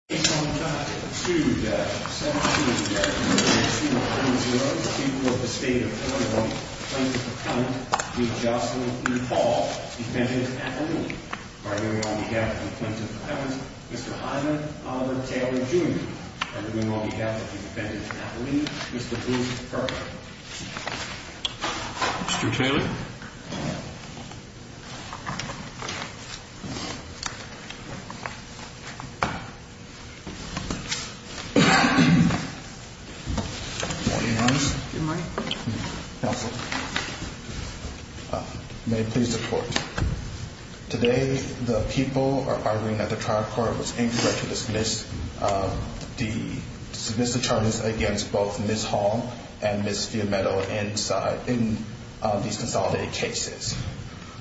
In the name of the Father, the Son, and the Holy Spirit. Amen. Good morning. May it please the Court. Today the people are arguing that the trial court was incorrect to dismiss the determines against both Ms. Hall and Ms. Fiumetto in these consolidated cases.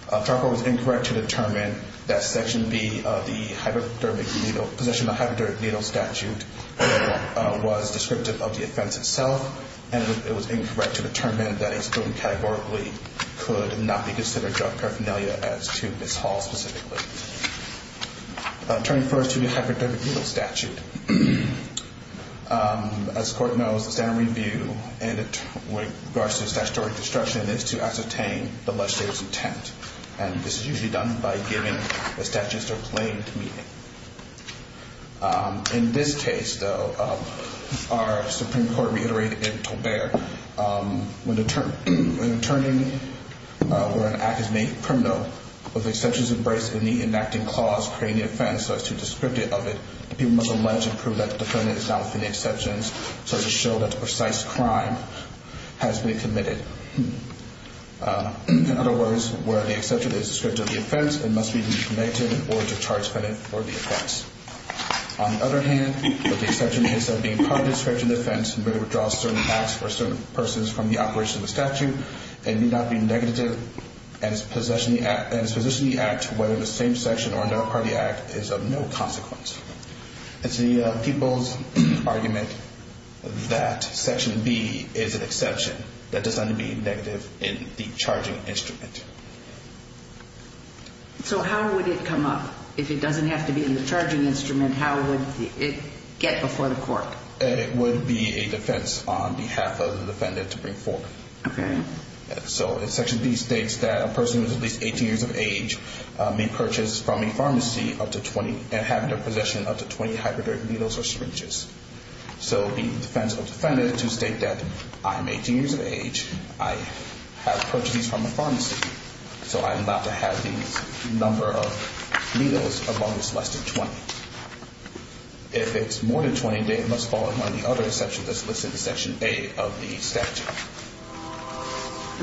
The trial court was incorrect to determine that Section B of the possession of a hypodermic needle statute was descriptive of the offense itself. And it was incorrect to determine that it was categorically could not be considered drug paraphernalia as to Ms. Hall specifically. Turning first to the hypodermic needle statute. As the Court knows, the standard review in regards to statutory destruction is to ascertain the legislator's intent. And this is usually done by giving the statutes their plain meaning. In this case, though, our Supreme Court reiterated in Tolbert, when an attorney or an act is made criminal, with exceptions embraced in the enacting clause creating the offense so as to descript it of it, people must allege and prove that the defendant is not within the exceptions so as to show that the precise crime has been committed. In other words, where the exception is descriptive of the offense, it must be negated in order to charge the defendant for the offense. On the other hand, where the exception is said to be part of the description of the offense and where it withdraws certain acts or certain persons from the operation of the statute, it need not be negative and is possessing the act whether the same section or another party act is of no consequence. It's the people's argument that Section B is an exception that does not need to be negative in the charging instrument. So how would it come up? If it doesn't have to be in the charging instrument, how would it get before the Court? It would be a defense on behalf of the defendant to bring forth. Okay. So Section B states that a person who is at least 18 years of age may purchase from a pharmacy up to 20 and have the possession of up to 20 hybrid needles or syringes. So the defense will defend it to state that I am 18 years of age, I have purchased these from a pharmacy, so I'm allowed to have these number of needles among those less than 20. If it's more than 20, then it must fall among the other exceptions that's listed in Section A of the statute.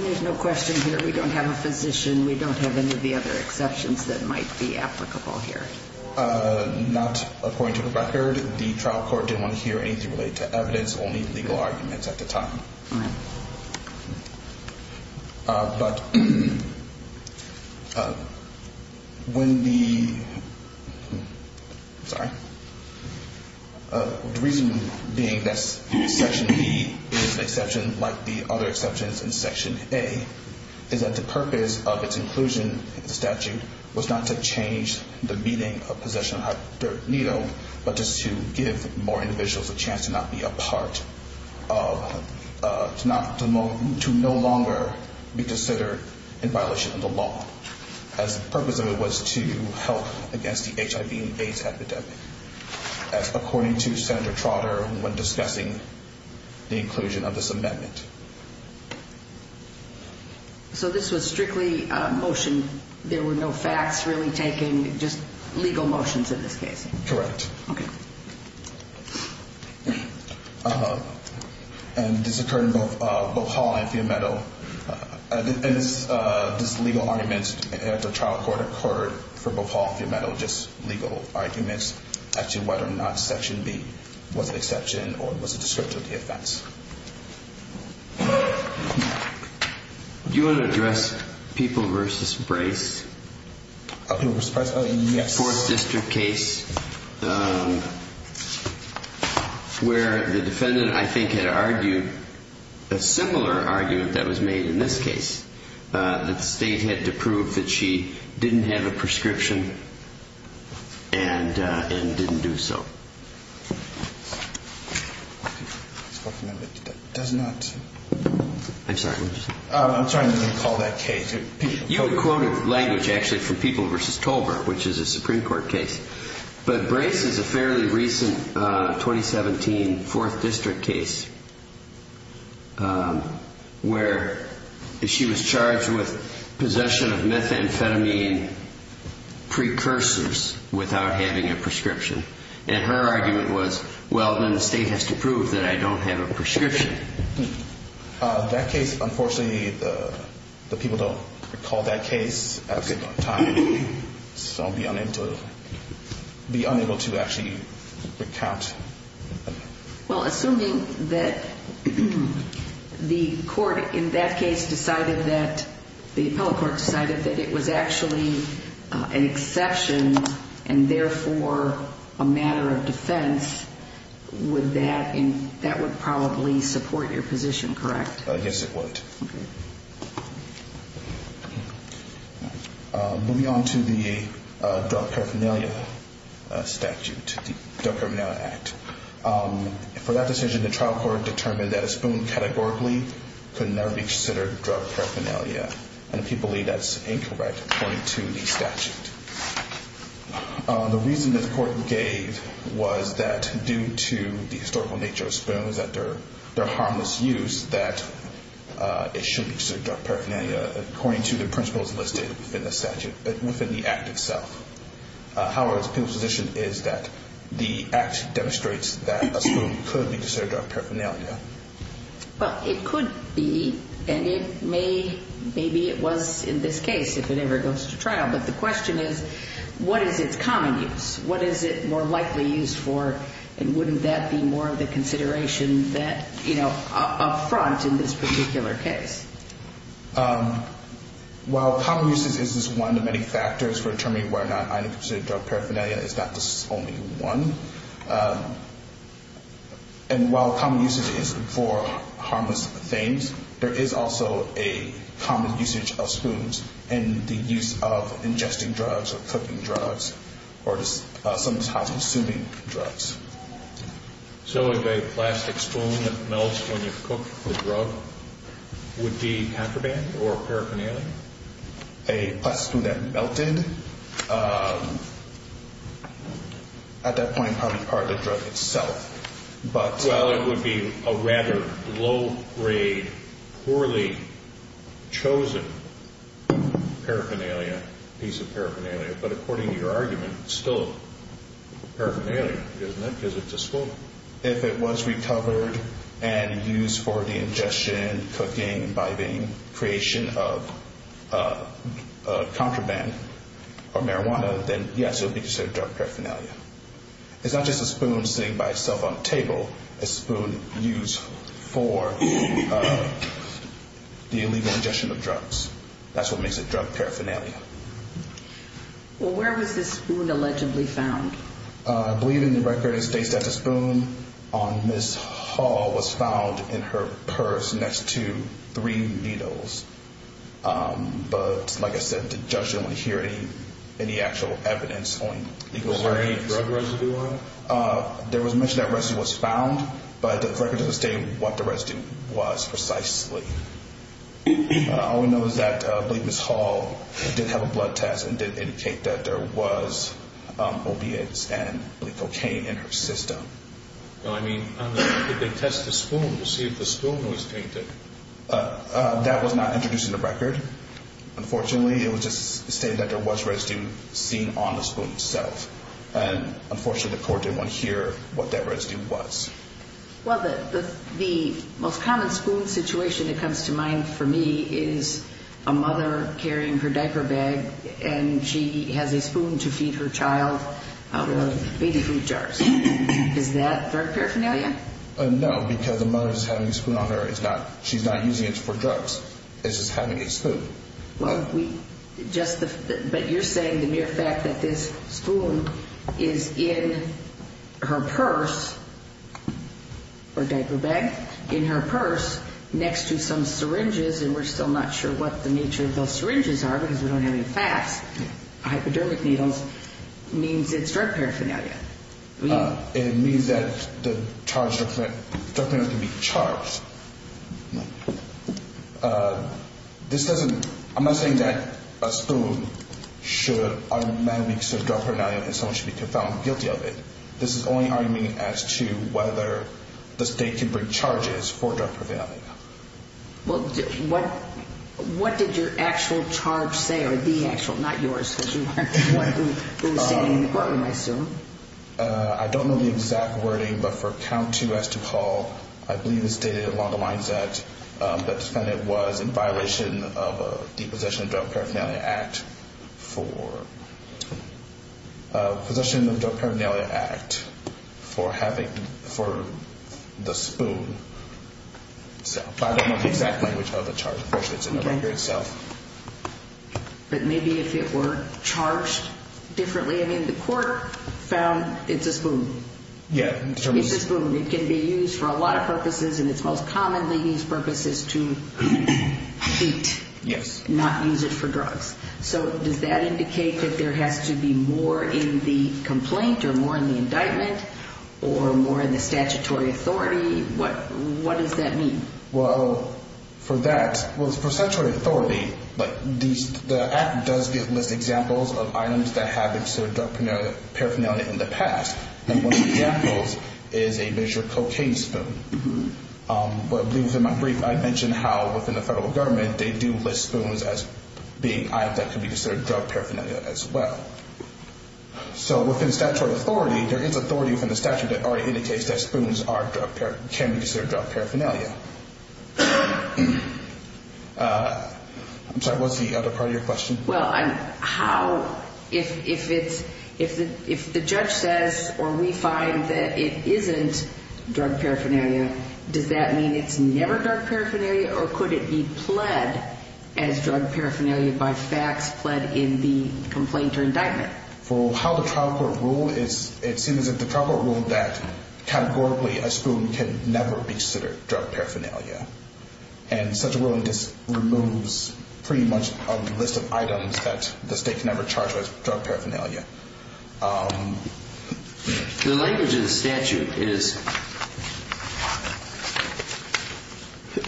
There's no question here. We don't have a physician. We don't have any of the other exceptions that might be applicable here. Not according to the record. The trial court didn't want to hear anything related to evidence, only legal arguments at the time. All right. But when the – sorry. The reason being that Section B is an exception like the other exceptions in Section A is that the purpose of its inclusion in the statute was not to change the meaning of possession of hybrid needle, but just to give more individuals a chance to not be a part of – to no longer be considered in violation of the law, as the purpose of it was to help against the HIV and AIDS epidemic, as according to Senator Trotter when discussing the inclusion of this amendment. So this was strictly a motion, there were no facts really taking, just legal motions in this case? Correct. Okay. And this occurred in both Hall and Fiumetto. This legal argument at the trial court occurred for both Hall and Fiumetto, just legal arguments, as to whether or not Section B was an exception or was a descriptor of the offense. Do you want to address People v. Brace? People v. Brace? Yes. This is a Fourth District case where the defendant, I think, had argued a similar argument that was made in this case, that the State had to prove that she didn't have a prescription and didn't do so. Does not. I'm sorry, what did you say? I'm sorry, I didn't mean to call that case. You quoted language actually from People v. Tolbert, which is a Supreme Court case. But Brace is a fairly recent 2017 Fourth District case where she was charged with possession of methamphetamine precursors without having a prescription. And her argument was, well, then the State has to prove that I don't have a prescription. That case, unfortunately, the People don't recall that case at the time. So I'll be unable to actually recount. Well, assuming that the court in that case decided that, the appellate court decided that it was actually an exception and therefore a matter of defense, that would probably support your position, correct? Yes, it would. Moving on to the drug paraphernalia statute, the Drug Paraphernalia Act. For that decision, the trial court determined that a spoon categorically could never be considered drug paraphernalia. And the people believe that's incorrect according to the statute. The reason that the court gave was that due to the historical nature of spoons, that they're harmless use, that it shouldn't be considered drug paraphernalia according to the principles listed in the statute within the Act itself. However, the people's position is that the Act demonstrates that a spoon could be considered drug paraphernalia. Well, it could be, and it may, maybe it was in this case if it ever goes to trial. But the question is, what is its common use? What is it more likely used for? And wouldn't that be more of a consideration that, you know, up front in this particular case? Well, common use is just one of many factors for determining whether or not I'd consider drug paraphernalia. It's not just only one. And while common use is for harmless things, there is also a common usage of spoons and the use of ingesting drugs or cooking drugs or some of these high-consuming drugs. So a plastic spoon that melts when you cook a drug would be hackerband or paraphernalia? A plastic spoon that melted? At that point, probably part of the drug itself. Well, it would be a rather low-grade, poorly chosen paraphernalia, piece of paraphernalia. But according to your argument, it's still paraphernalia, isn't it, because it's a spoon? So if it was recovered and used for the ingestion, cooking, biting, creation of contraband or marijuana, then, yes, it would be considered drug paraphernalia. It's not just a spoon sitting by itself on a table. It's a spoon used for the illegal ingestion of drugs. That's what makes it drug paraphernalia. Well, where was this spoon allegedly found? I believe in the record it states that the spoon on Ms. Hall was found in her purse next to three needles. But, like I said, the judge didn't want to hear any actual evidence on legal grounds. Was there any drug residue on it? There was mention that residue was found, but the record doesn't state what the residue was precisely. All we know is that Ms. Hall did have a blood test and did indicate that there was opiates and cocaine in her system. I mean, did they test the spoon to see if the spoon was tainted? That was not introduced in the record. Unfortunately, it was just stated that there was residue seen on the spoon itself. And, unfortunately, the court didn't want to hear what that residue was. Well, the most common spoon situation that comes to mind for me is a mother carrying her diaper bag and she has a spoon to feed her child out of baby food jars. Is that drug paraphernalia? No, because the mother is having a spoon on her. She's not using it for drugs. It's just having a spoon. But you're saying the mere fact that this spoon is in her purse or diaper bag, in her purse, next to some syringes, and we're still not sure what the nature of those syringes are because we don't have any facts, hypodermic needles means it's drug paraphernalia. And it means that the drug paraphernalia can be charged. This doesn't – I'm not saying that a spoon should automatically be considered drug paraphernalia and someone should be found guilty of it. This is only arguing as to whether the state can bring charges for drug paraphernalia. Well, what did your actual charge say, or the actual, not yours, because you weren't the one who was standing in the courtroom, I assume? I don't know the exact wording, but for count two as to call, I believe it was stated along the lines that the defendant was in violation of the Possession of Drug Paraphernalia Act for – Possession of Drug Paraphernalia Act for having – for the spoon. But I don't know the exact language of the charge. Unfortunately, it's in the record itself. But maybe if it were charged differently. I mean, the court found it's a spoon. Yeah. It's a spoon. It can be used for a lot of purposes, and it's most commonly used for purposes to eat. Yes. Not use it for drugs. So does that indicate that there has to be more in the complaint or more in the indictment or more in the statutory authority? What does that mean? Well, for that – well, it's for statutory authority, but the Act does give list examples of items that have been considered drug paraphernalia in the past, and one of the examples is a measured cocaine spoon. But I believe in my brief I mentioned how, within the federal government, they do list spoons as being items that can be considered drug paraphernalia as well. So within statutory authority, there is authority within the statute that already indicates that spoons are drug paraphernalia – can be considered drug paraphernalia. I'm sorry, what was the other part of your question? Well, how – if it's – if the judge says or we find that it isn't drug paraphernalia, does that mean it's never drug paraphernalia or could it be pled as drug paraphernalia by facts pled in the complaint or indictment? Well, how the trial court ruled is it seems that the trial court ruled that categorically a spoon can never be considered drug paraphernalia. And such a ruling just removes pretty much a list of items that the state can never charge as drug paraphernalia. The language of the statute is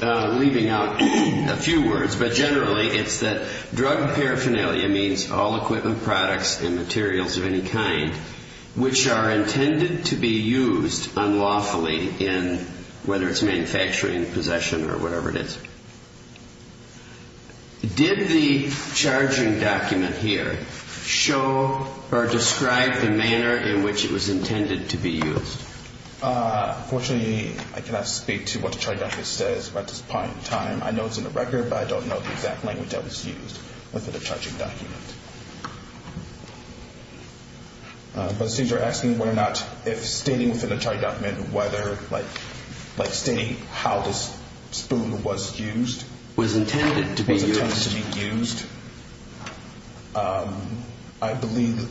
– I'm leaving out a few words, but generally it's that drug paraphernalia means all equipment, products, and materials of any kind which are intended to be used unlawfully in whether it's manufacturing, possession, or whatever it is. Did the charging document here show or describe the manner in which it was intended to be used? Unfortunately, I cannot speak to what the charging document says at this point in time. I know it's in the record, but I don't know the exact language that was used within the charging document. But since you're asking whether or not if stating within the charging document whether – like stating how this spoon was used – I believe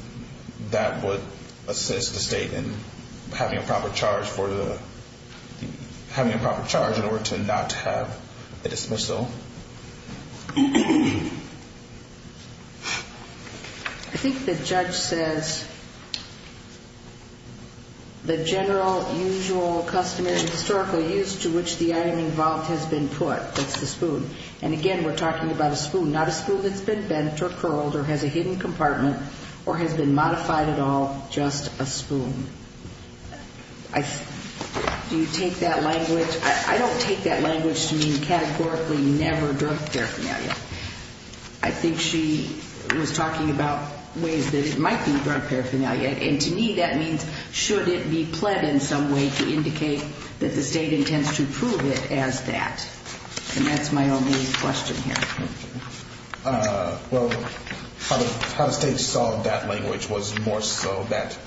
that would assist the state in having a proper charge for the – having a proper charge in order to not have a dismissal. I think the judge says the general, usual, customary, historical use to which the item involved has been put, that's the spoon. And again, we're talking about a spoon, not a spoon that's been bent or curled or has a hidden compartment or has been modified at all, just a spoon. Do you take that language – I don't take that language to mean categorically never drug paraphernalia. I think she was talking about ways that it might be drug paraphernalia, and to me that means should it be pled in some way to indicate that the state intends to prove it as that. And that's my only question here. Well, how the state saw that language was more so that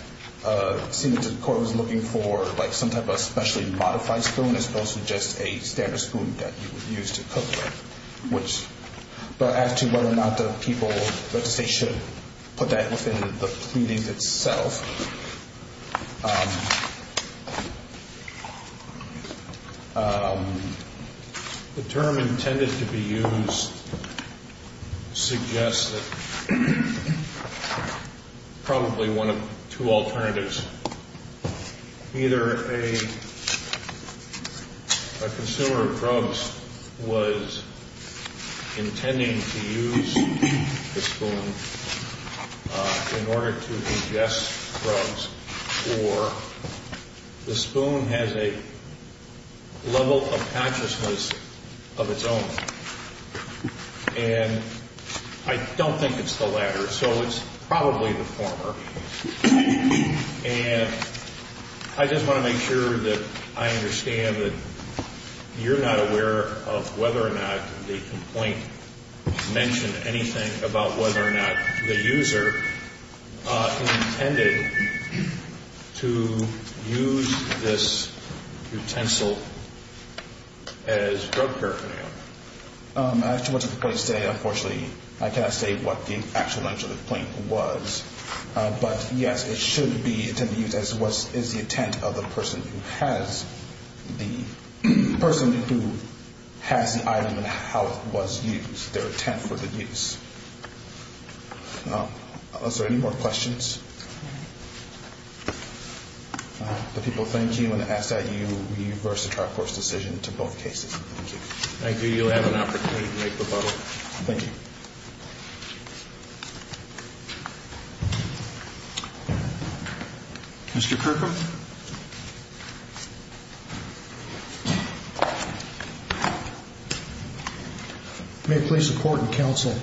it seemed that the court was looking for like some type of specially modified spoon as opposed to just a standard spoon that you would use to cook with. But as to whether or not the people – whether the state should put that within the pleadings itself. The term intended to be used suggests that probably one of two alternatives. Either a consumer of drugs was intending to use the spoon in order to ingest drugs, or the spoon has a level of consciousness of its own. And I don't think it's the latter. So it's probably the former. And I just want to make sure that I understand that you're not aware of whether or not the complaint mentioned anything about whether or not the user intended to use the spoon. To use this utensil as drug paraphernalia. As to what the complaints say, unfortunately I cannot say what the actual language of the complaint was. But yes, it should be intended to be used as what is the intent of the person who has the item and how it was used, their intent for the use. Is there any more questions? The people thank you and ask that you reverse the trial court's decision to both cases. Thank you. You'll have an opportunity to make rebuttal. Thank you. Mr. Kirkham? May it please the court and counsel,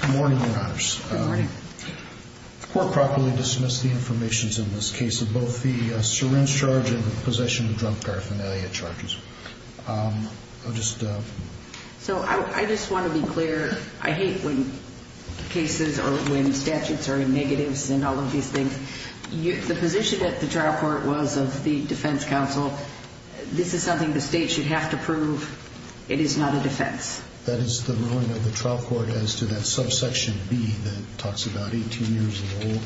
good morning, your honors. Good morning. The court properly dismissed the information in this case of both the syringe charge and the possession of drug paraphernalia charges. So I just want to be clear. I hate when cases or when statutes are in negatives and all of these things. The position at the trial court was of the defense counsel. This is something the state should have to prove. It is not a defense. That is the ruling of the trial court as to that subsection B that talks about 18 years old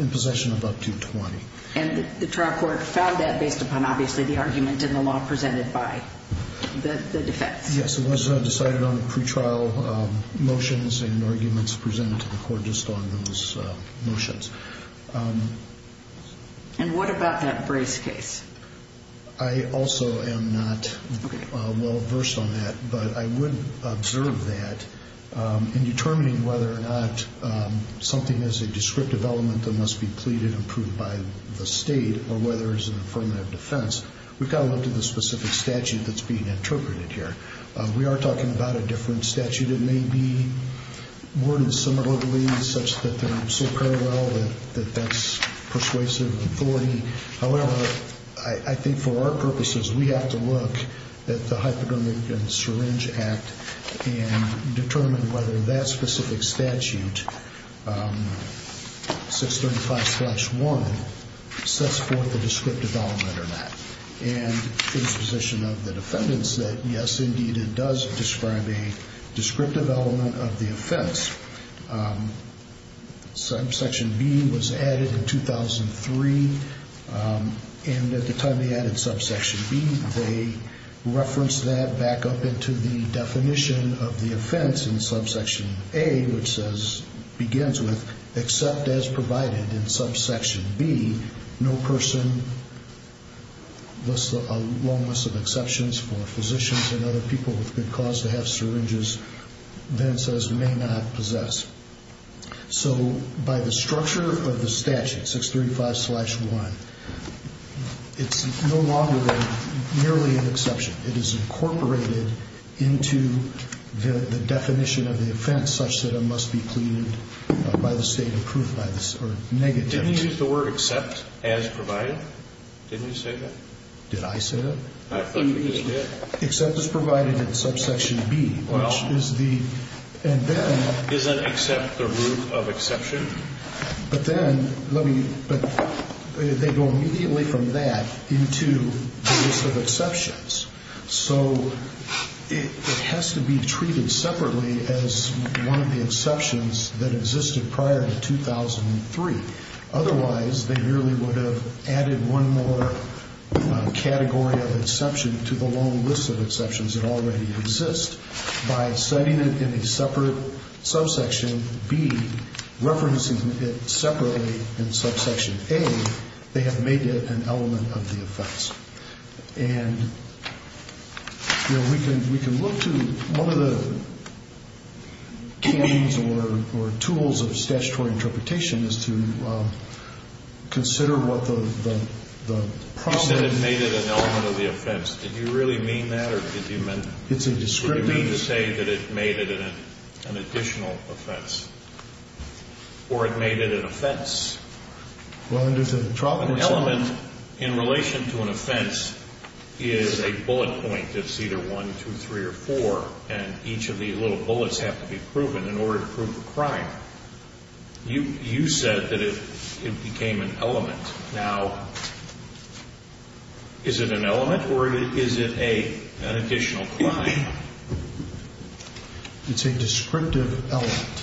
in possession of up to 20. And the trial court found that based upon obviously the argument in the law presented by the defense. Yes, it was decided on the pretrial motions and arguments presented to the court just on those motions. And what about that brace case? I also am not well versed on that, but I would observe that in determining whether or not something is a descriptive element that must be pleaded and proved by the state or whether it's an affirmative defense. We've got to look to the specific statute that's being interpreted here. We are talking about a different statute. It may be worded similarly such that they're so parallel that that's persuasive authority. However, I think for our purposes we have to look at the Hypodermic and Syringe Act and determine whether that specific statute, 635-1, sets forth a descriptive element or not. And it's the position of the defendants that yes, indeed, it does describe a descriptive element of the offense. Subsection B was added in 2003, and at the time they added subsection B, they referenced that back up into the definition of the offense in subsection A, which says, begins with, except as provided in subsection B, no person, a long list of exceptions for physicians and other people with good cause to have syringes, then says may not possess. So by the structure of the statute, 635-1, it's no longer merely an exception. It is incorporated into the definition of the offense such that it must be pleaded by the state and proved by the state. Didn't you use the word except as provided? Didn't you say that? Did I say that? I thought you just did. Except as provided in subsection B, which is the, and then. Isn't except the root of exception? But then, let me, but they go immediately from that into the list of exceptions. So it has to be treated separately as one of the exceptions that existed prior to 2003. Otherwise, they merely would have added one more category of exception to the long list of exceptions that already exist. By setting it in a separate subsection B, referencing it separately in subsection A, they have made it an element of the offense. And, you know, we can look to one of the canons or tools of statutory interpretation as to consider what the problem is. You said it made it an element of the offense. Did you really mean that, or did you mean? It's a descriptive. Did you mean to say that it made it an additional offense? Or it made it an offense? Well, and there's a problem. An element in relation to an offense is a bullet point. It's either one, two, three, or four. And each of these little bullets have to be proven in order to prove the crime. You said that it became an element. Now, is it an element, or is it an additional crime? It's a descriptive element,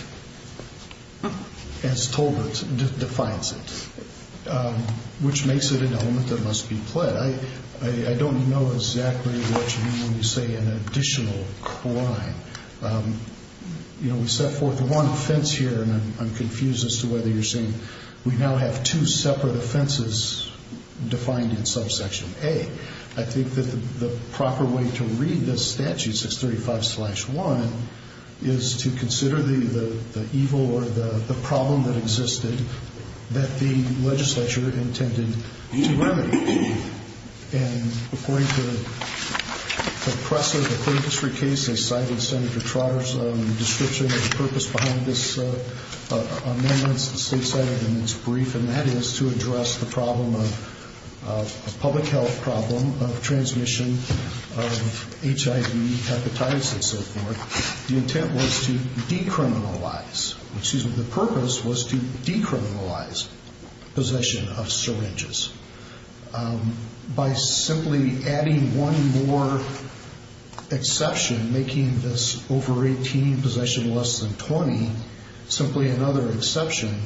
as Tolbert defines it, which makes it an element that must be pled. I don't know exactly what you mean when you say an additional crime. You know, we set forth one offense here, and I'm confused as to whether you're saying we now have two separate offenses defined in subsection A. I think that the proper way to read this statute, 635-1, is to consider the evil or the problem that existed that the legislature intended to remedy. And according to the press of the Cleveland Street case, they cited Senator Trotter's description of the purpose behind this amendment to the State Senate in its brief, and that is to address the problem of a public health problem of transmission of HIV hepatitis and so forth. The intent was to decriminalize, excuse me, the purpose was to decriminalize possession of syringes. By simply adding one more exception, making this over-18 possession less than 20, simply another exception,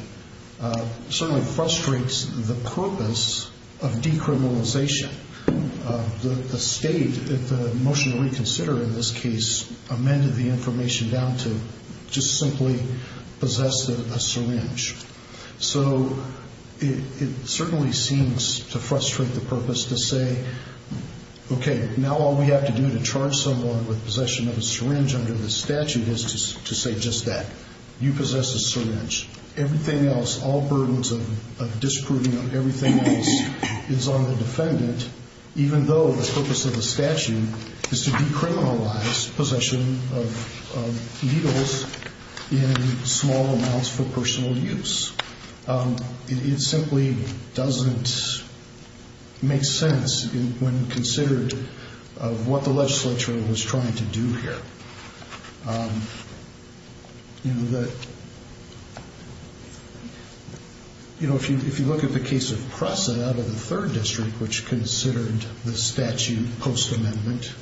certainly frustrates the purpose of decriminalization. The State, at the motion to reconsider in this case, amended the information down to just simply possess a syringe. So it certainly seems to frustrate the purpose to say, okay, now all we have to do to charge someone with possession of a syringe under this statute is to say just that. You possess a syringe. Everything else, all burdens of disproving of everything else is on the defendant, even though the purpose of the statute is to decriminalize possession of needles in small amounts for personal use. It simply doesn't make sense when considered of what the legislature was trying to do here. You know, if you look at the case of PRESA out of the 3rd District, which considered the statute post-amendment.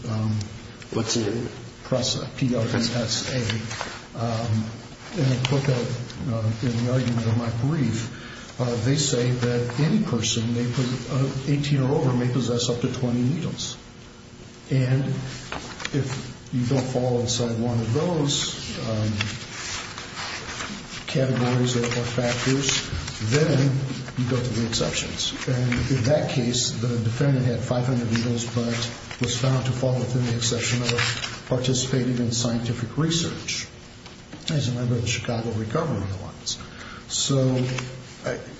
PRESA, P-R-E-S-A. And I put that in the argument of my brief. They say that any person 18 or over may possess up to 20 needles. And if you don't fall inside one of those categories or factors, then you go to the exceptions. And in that case, the defendant had 500 needles, but was found to fall within the exception of participating in scientific research as a member of the Chicago Recovery Alliance. So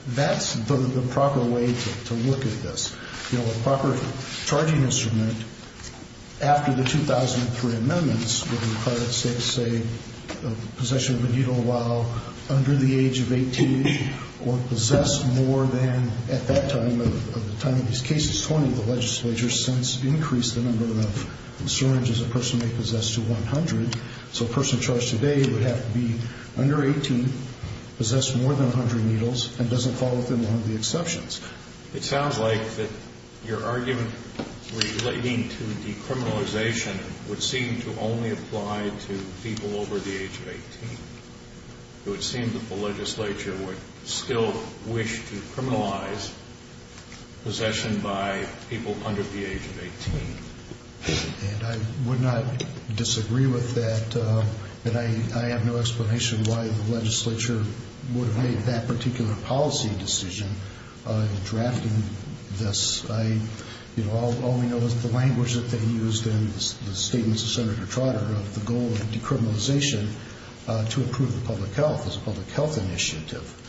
that's the proper way to look at this. You know, a proper charging instrument, after the 2003 amendments, would require that states say possession of a needle while under the age of 18 or possess more than at that time of the time of these cases. 20 of the legislature has since increased the number of syringes a person may possess to 100. So a person charged today would have to be under 18, possess more than 100 needles, and doesn't fall within one of the exceptions. It sounds like that your argument relating to decriminalization would seem to only apply to people over the age of 18. It would seem that the legislature would still wish to criminalize possession by people under the age of 18. And I would not disagree with that. And I have no explanation why the legislature would have made that particular policy decision in drafting this. All we know is the language that they used in the statements of Senator Trotter of the goal of decriminalization to improve the public health, as a public health initiative.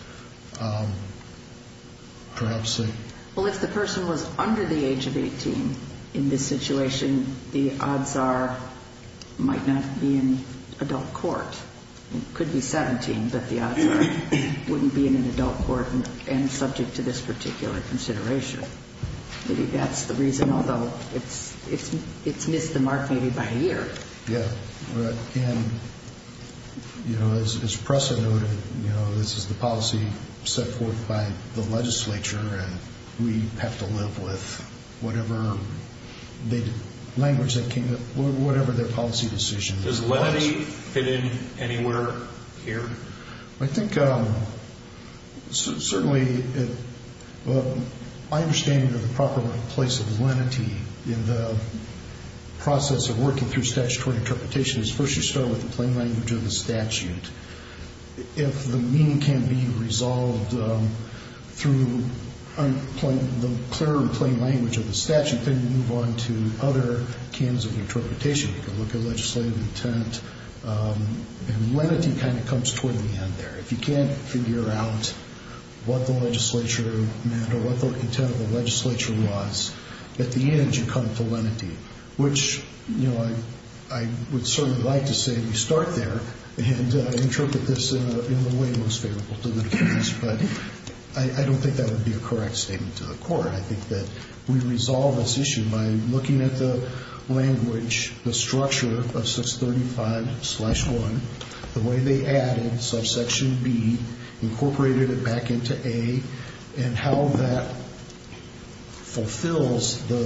Well, if the person was under the age of 18 in this situation, the odds are might not be in adult court. It could be 17, but the odds are it wouldn't be in an adult court and subject to this particular consideration. Maybe that's the reason, although it's missed the mark maybe by a year. Yeah. And, you know, as Presser noted, you know, this is the policy set forth by the legislature, and we have to live with whatever language that came up, whatever their policy decision was. Does lenity fit in anywhere here? I think certainly my understanding of the proper place of lenity in the process of working through statutory interpretation is, first, you start with the plain language of the statute. If the meaning can be resolved through the clear and plain language of the statute, then you move on to other kinds of interpretation. You can look at legislative intent, and lenity kind of comes toward the end there. If you can't figure out what the legislature meant or what the intent of the legislature was, at the end you come to lenity, which, you know, I would certainly like to say we start there and interpret this in the way most favorable to the defense, but I don't think that would be a correct statement to the court. I think that we resolve this issue by looking at the language, the structure of 635-1, the way they added subsection B, incorporated it back into A, and how that fulfills the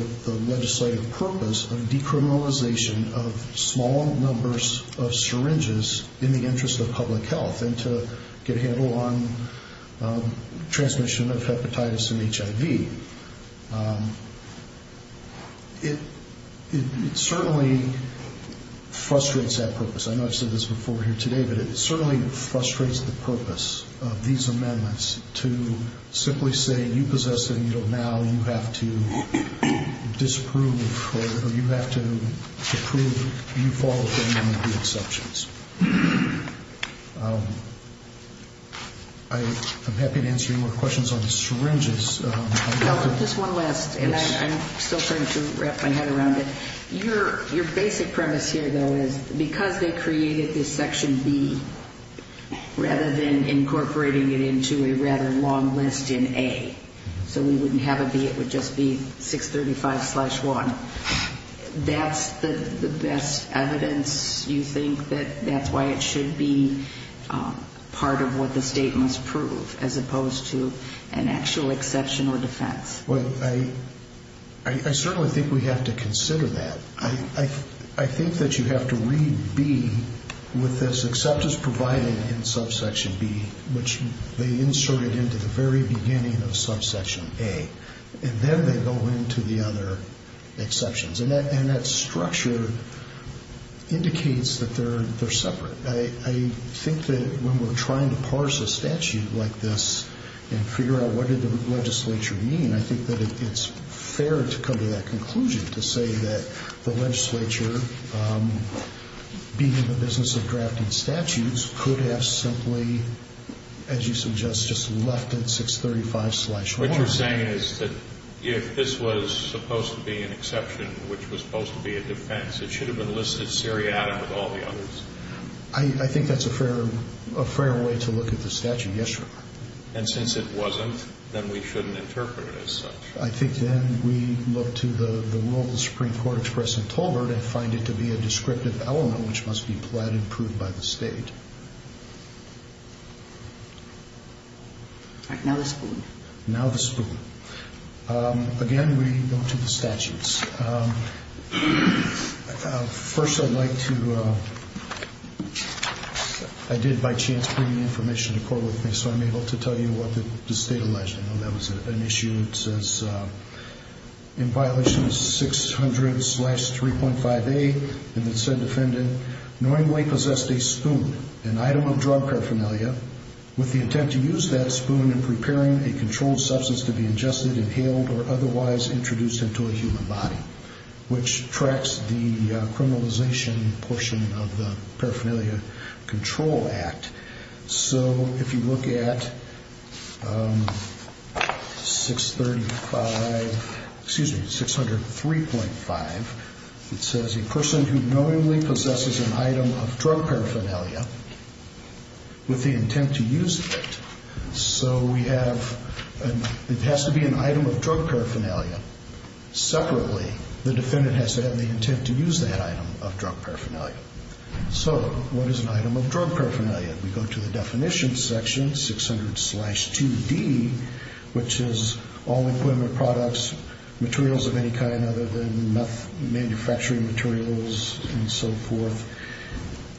legislative purpose of decriminalization of small numbers of syringes in the interest of public health and to get a handle on transmission of hepatitis and HIV. It certainly frustrates that purpose. I know I've said this before here today, but it certainly frustrates the purpose of these amendments to simply say you possess a needle now, you have to disprove or you have to approve, you fall within the exceptions. I'm happy to answer any more questions on syringes. Just one last, and I'm still trying to wrap my head around it. Your basic premise here, though, is because they created this section B, rather than incorporating it into a rather long list in A, so we wouldn't have a B, it would just be 635-1. That's the best evidence you think that that's why it should be part of what the state must prove, as opposed to an actual exception or defense? Well, I certainly think we have to consider that. I think that you have to read B with this, the except is provided in subsection B, which they inserted into the very beginning of subsection A, and then they go into the other exceptions. And that structure indicates that they're separate. I think that when we're trying to parse a statute like this and figure out what did the legislature mean, I think that it's fair to come to that conclusion, to say that the legislature, being in the business of drafting statutes, could have simply, as you suggest, just left it 635-1. What you're saying is that if this was supposed to be an exception, which was supposed to be a defense, it should have been listed seriatim with all the others? I think that's a fair way to look at the statute, yes, Your Honor. And since it wasn't, then we shouldn't interpret it as such. I think then we look to the rule of the Supreme Court expressed in Tolbert and find it to be a descriptive element which must be plotted and proved by the State. All right, now the spoon. Now the spoon. Again, we go to the statutes. First, I'd like to – I did, by chance, bring the information to court with me, so I'm able to tell you what the State alleged. I know that was an issue. It says, in violation of 600-3.5a, it said defendant knowingly possessed a spoon, an item of drug paraphernalia, with the intent to use that spoon in preparing a controlled substance to be ingested, inhaled, or otherwise introduced into a human body, which tracks the criminalization portion of the Paraphernalia Control Act. So if you look at 635 – excuse me, 600-3.5, it says a person who knowingly possesses an item of drug paraphernalia with the intent to use it. So we have – it has to be an item of drug paraphernalia. Separately, the defendant has to have the intent to use that item of drug paraphernalia. So what is an item of drug paraphernalia? We go to the definition section, 600-2d, which is all equipment, products, materials of any kind other than manufacturing materials and so forth.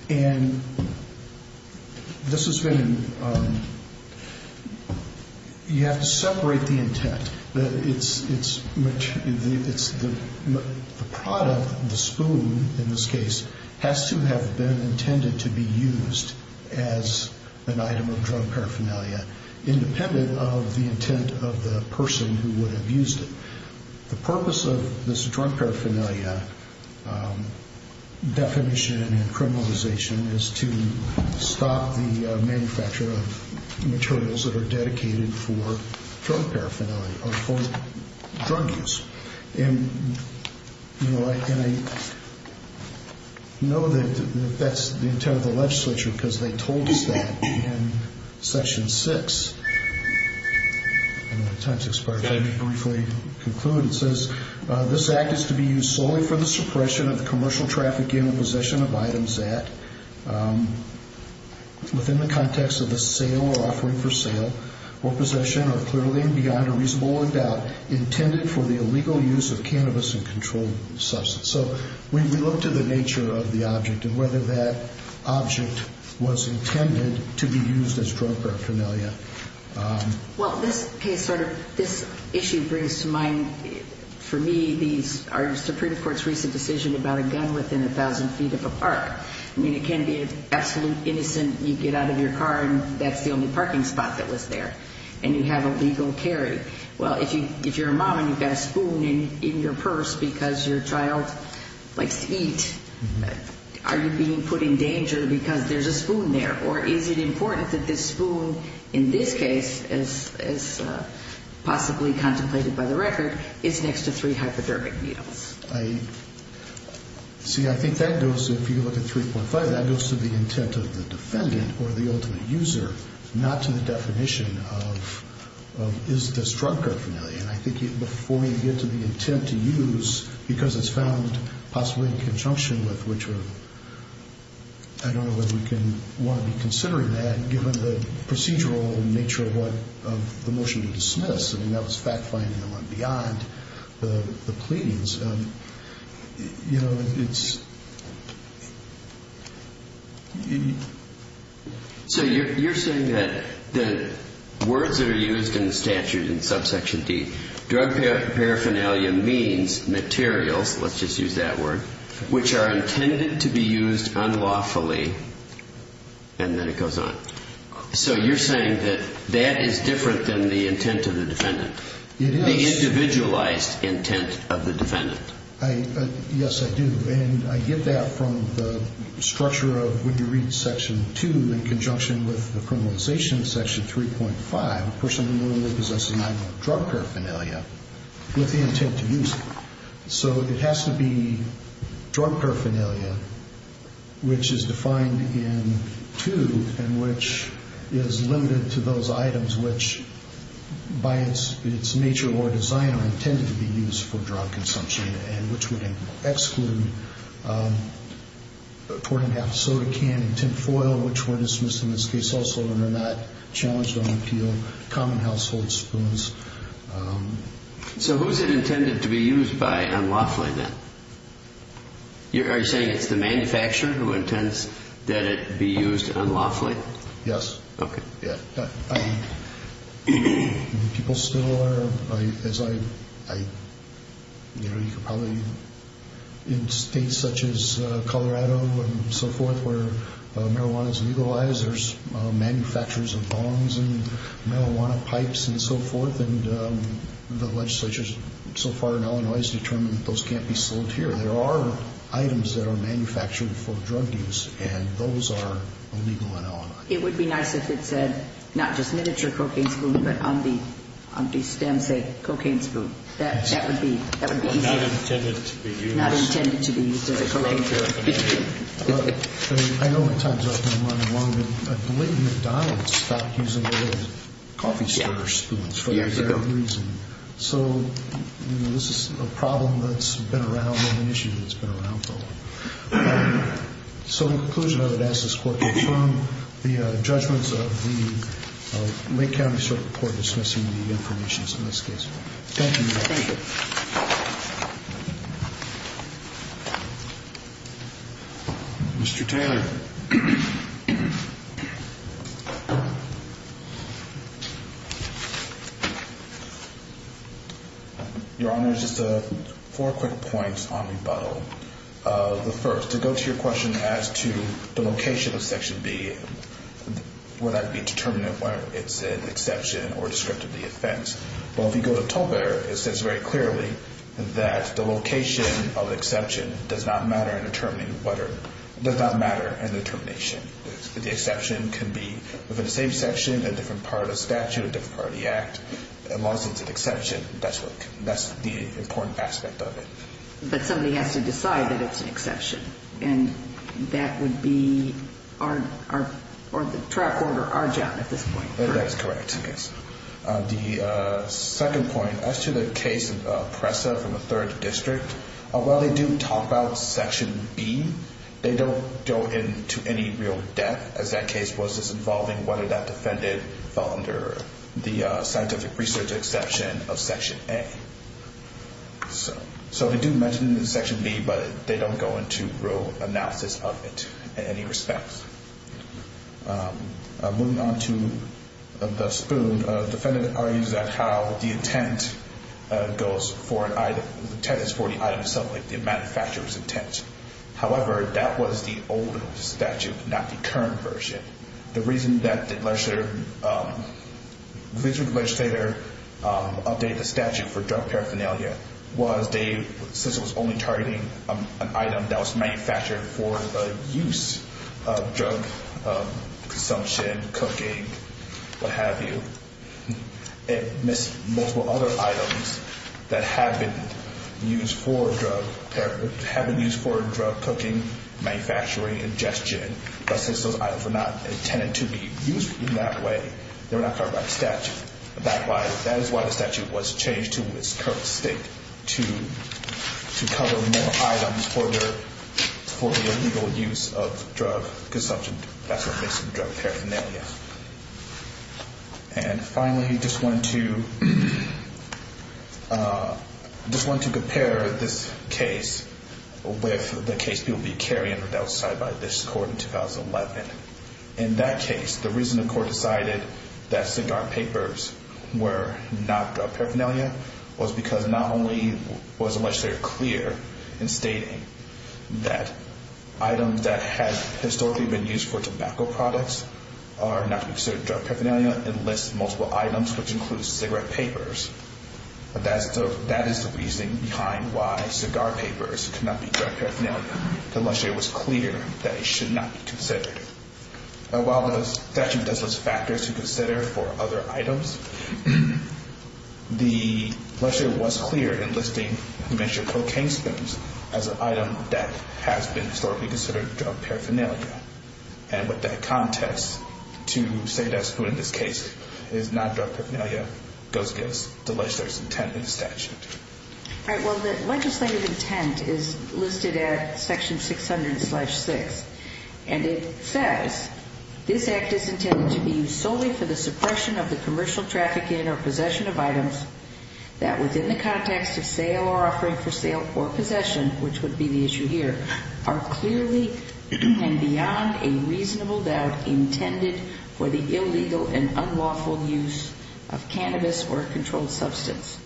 And this has been – you have to separate the intent. It's the product, the spoon in this case, has to have been intended to be used as an item of drug paraphernalia, independent of the intent of the person who would have used it. The purpose of this drug paraphernalia definition and criminalization is to stop the manufacture of materials that are dedicated for drug paraphernalia or for drug use. And, you know, I know that that's the intent of the legislature because they told us that in Section 6. My time's expired. Let me briefly conclude. It says, This Act is to be used solely for the suppression of commercial traffic in or possession of items that, within the context of a sale or offering for sale or possession or clearly and beyond a reasonable doubt, intended for the illegal use of cannabis and controlled substance. So we look to the nature of the object and whether that object was intended to be used as drug paraphernalia. Well, this case sort of, this issue brings to mind, for me, the Supreme Court's recent decision about a gun within 1,000 feet of a park. I mean, it can be absolutely innocent. You get out of your car and that's the only parking spot that was there and you have a legal carry. Well, if you're a mom and you've got a spoon in your purse because your child likes to eat, are you being put in danger because there's a spoon there? Or is it important that this spoon, in this case, as possibly contemplated by the record, is next to three hypodermic needles? See, I think that goes, if you look at 3.5, that goes to the intent of the defendant or the ultimate user, not to the definition of is this drug paraphernalia. And I think before we get to the intent to use, because it's found possibly in conjunction with which, I don't know whether we can want to be considering that given the procedural nature of the motion to dismiss. I mean, that was fact-finding and went beyond the pleadings. So you're saying that the words that are used in the statute in subsection D, drug paraphernalia means materials, let's just use that word, which are intended to be used unlawfully, and then it goes on. So you're saying that that is different than the intent of the defendant, the individualized intent of the defendant. Yes, I do. And I get that from the structure of what you read in Section 2 in conjunction with the criminalization of Section 3.5, a person who normally possesses an item of drug paraphernalia, with the intent to use it. So it has to be drug paraphernalia, which is defined in 2 and which is limited to those items which, by its nature or design, are intended to be used for drug consumption and which would exclude pouring half a soda can in tin foil, which were dismissed in this case also and are not challenged on appeal, common household spoons. So who is it intended to be used by unlawfully then? Are you saying it's the manufacturer who intends that it be used unlawfully? Yes. Okay. People still are, as I, you know, you could probably, in states such as Colorado and so forth where marijuana is legalized, there's manufacturers of bongs and marijuana pipes and so forth. And the legislature so far in Illinois has determined that those can't be sold here. There are items that are manufactured for drug use, and those are illegal in Illinois. It would be nice if it said not just miniature cocaine spoon, but on the stem say cocaine spoon. That would be easy. Not intended to be used. Not intended to be used as a cocaine spoon. I know my time's up and I'm running along, but a blatant McDonald's stopped using the word coffee stirrer spoons for the exact reason. So, you know, this is a problem that's been around and an issue that's been around for a long time. So in conclusion, I would ask this Court to confirm the judgments of the Lake County Circuit Court dismissing the information in this case. Thank you. Thank you. Mr. Taylor. Your Honor, just four quick points on rebuttal. The first, to go to your question as to the location of Section B, would that be determinate whether it's an exception or descriptively offense? Well, if you go to Tolbert, it says very clearly that the location of exception does not matter in determining whether, does not matter in the determination. The exception can be within the same section, a different part of the statute, a different part of the act. As long as it's an exception, that's the important aspect of it. But somebody has to decide that it's an exception, and that would be our, or the trial court or our job at this point. That's correct, yes. The second point, as to the case of Pressa from the 3rd District, while they do talk about Section B, they don't go into any real depth, as that case was involving whether that defendant fell under the scientific research exception of Section A. So they do mention Section B, but they don't go into real analysis of it in any respect. Moving on to the spoon, the defendant argues that how the intent goes for an item, the intent is for the item itself, like the manufacturer's intent. However, that was the old statute, not the current version. The reason that the District Legislature updated the statute for drug paraphernalia was they, since it was only targeting an item that was manufactured for the use of drug consumption, cooking, what have you, it missed multiple other items that have been used for drug paraphernalia, have been used for drug cooking, manufacturing, ingestion, but since those items were not intended to be used in that way, they were not covered by the statute. That is why the statute was changed to its current state, to cover more items for the illegal use of drug consumption. That's what makes it drug paraphernalia. Finally, I just want to compare this case with the case that will be carried outside by this Court in 2011. In that case, the reason the Court decided that cigar papers were not drug paraphernalia was because not only was it much clearer in stating that items that had historically been used for tobacco products are not considered drug paraphernalia and lists multiple items, which includes cigarette papers. That is the reason behind why cigar papers cannot be drug paraphernalia. The legislature was clear that it should not be considered. While the statute does list factors to consider for other items, the legislature was clear in listing mentioned cocaine spills as an item that has been historically considered drug paraphernalia. And with that context, to say that's true in this case is not drug paraphernalia, goes against the legislature's intent in the statute. All right, well, the legislative intent is listed at Section 600-6, and it says, This Act is intended to be used solely for the suppression of the commercial trafficking or possession of items that, within the context of sale or offering for sale or possession, which would be the issue here, are clearly and beyond a reasonable doubt intended for the illegal and unlawful use of cannabis or a controlled substance.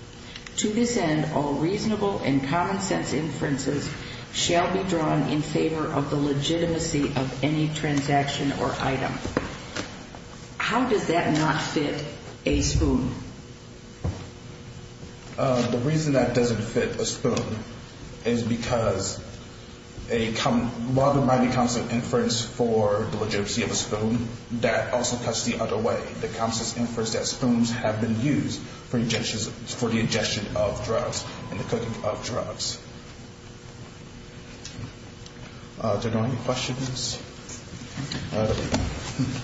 To this end, all reasonable and common-sense inferences shall be drawn in favor of the legitimacy of any transaction or item. How does that not fit a spoon? The reason that doesn't fit a spoon is because while there might be common-sense inference for the legitimacy of a spoon, that also cuts the other way. The common-sense inference that spoons have been used for the ingestion of drugs and the cooking of drugs. Do we have any questions?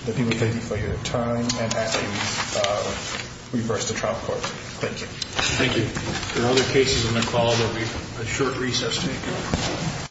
Thank you for your time. Thank you. There are other cases in the call that we have a short recess to take care of.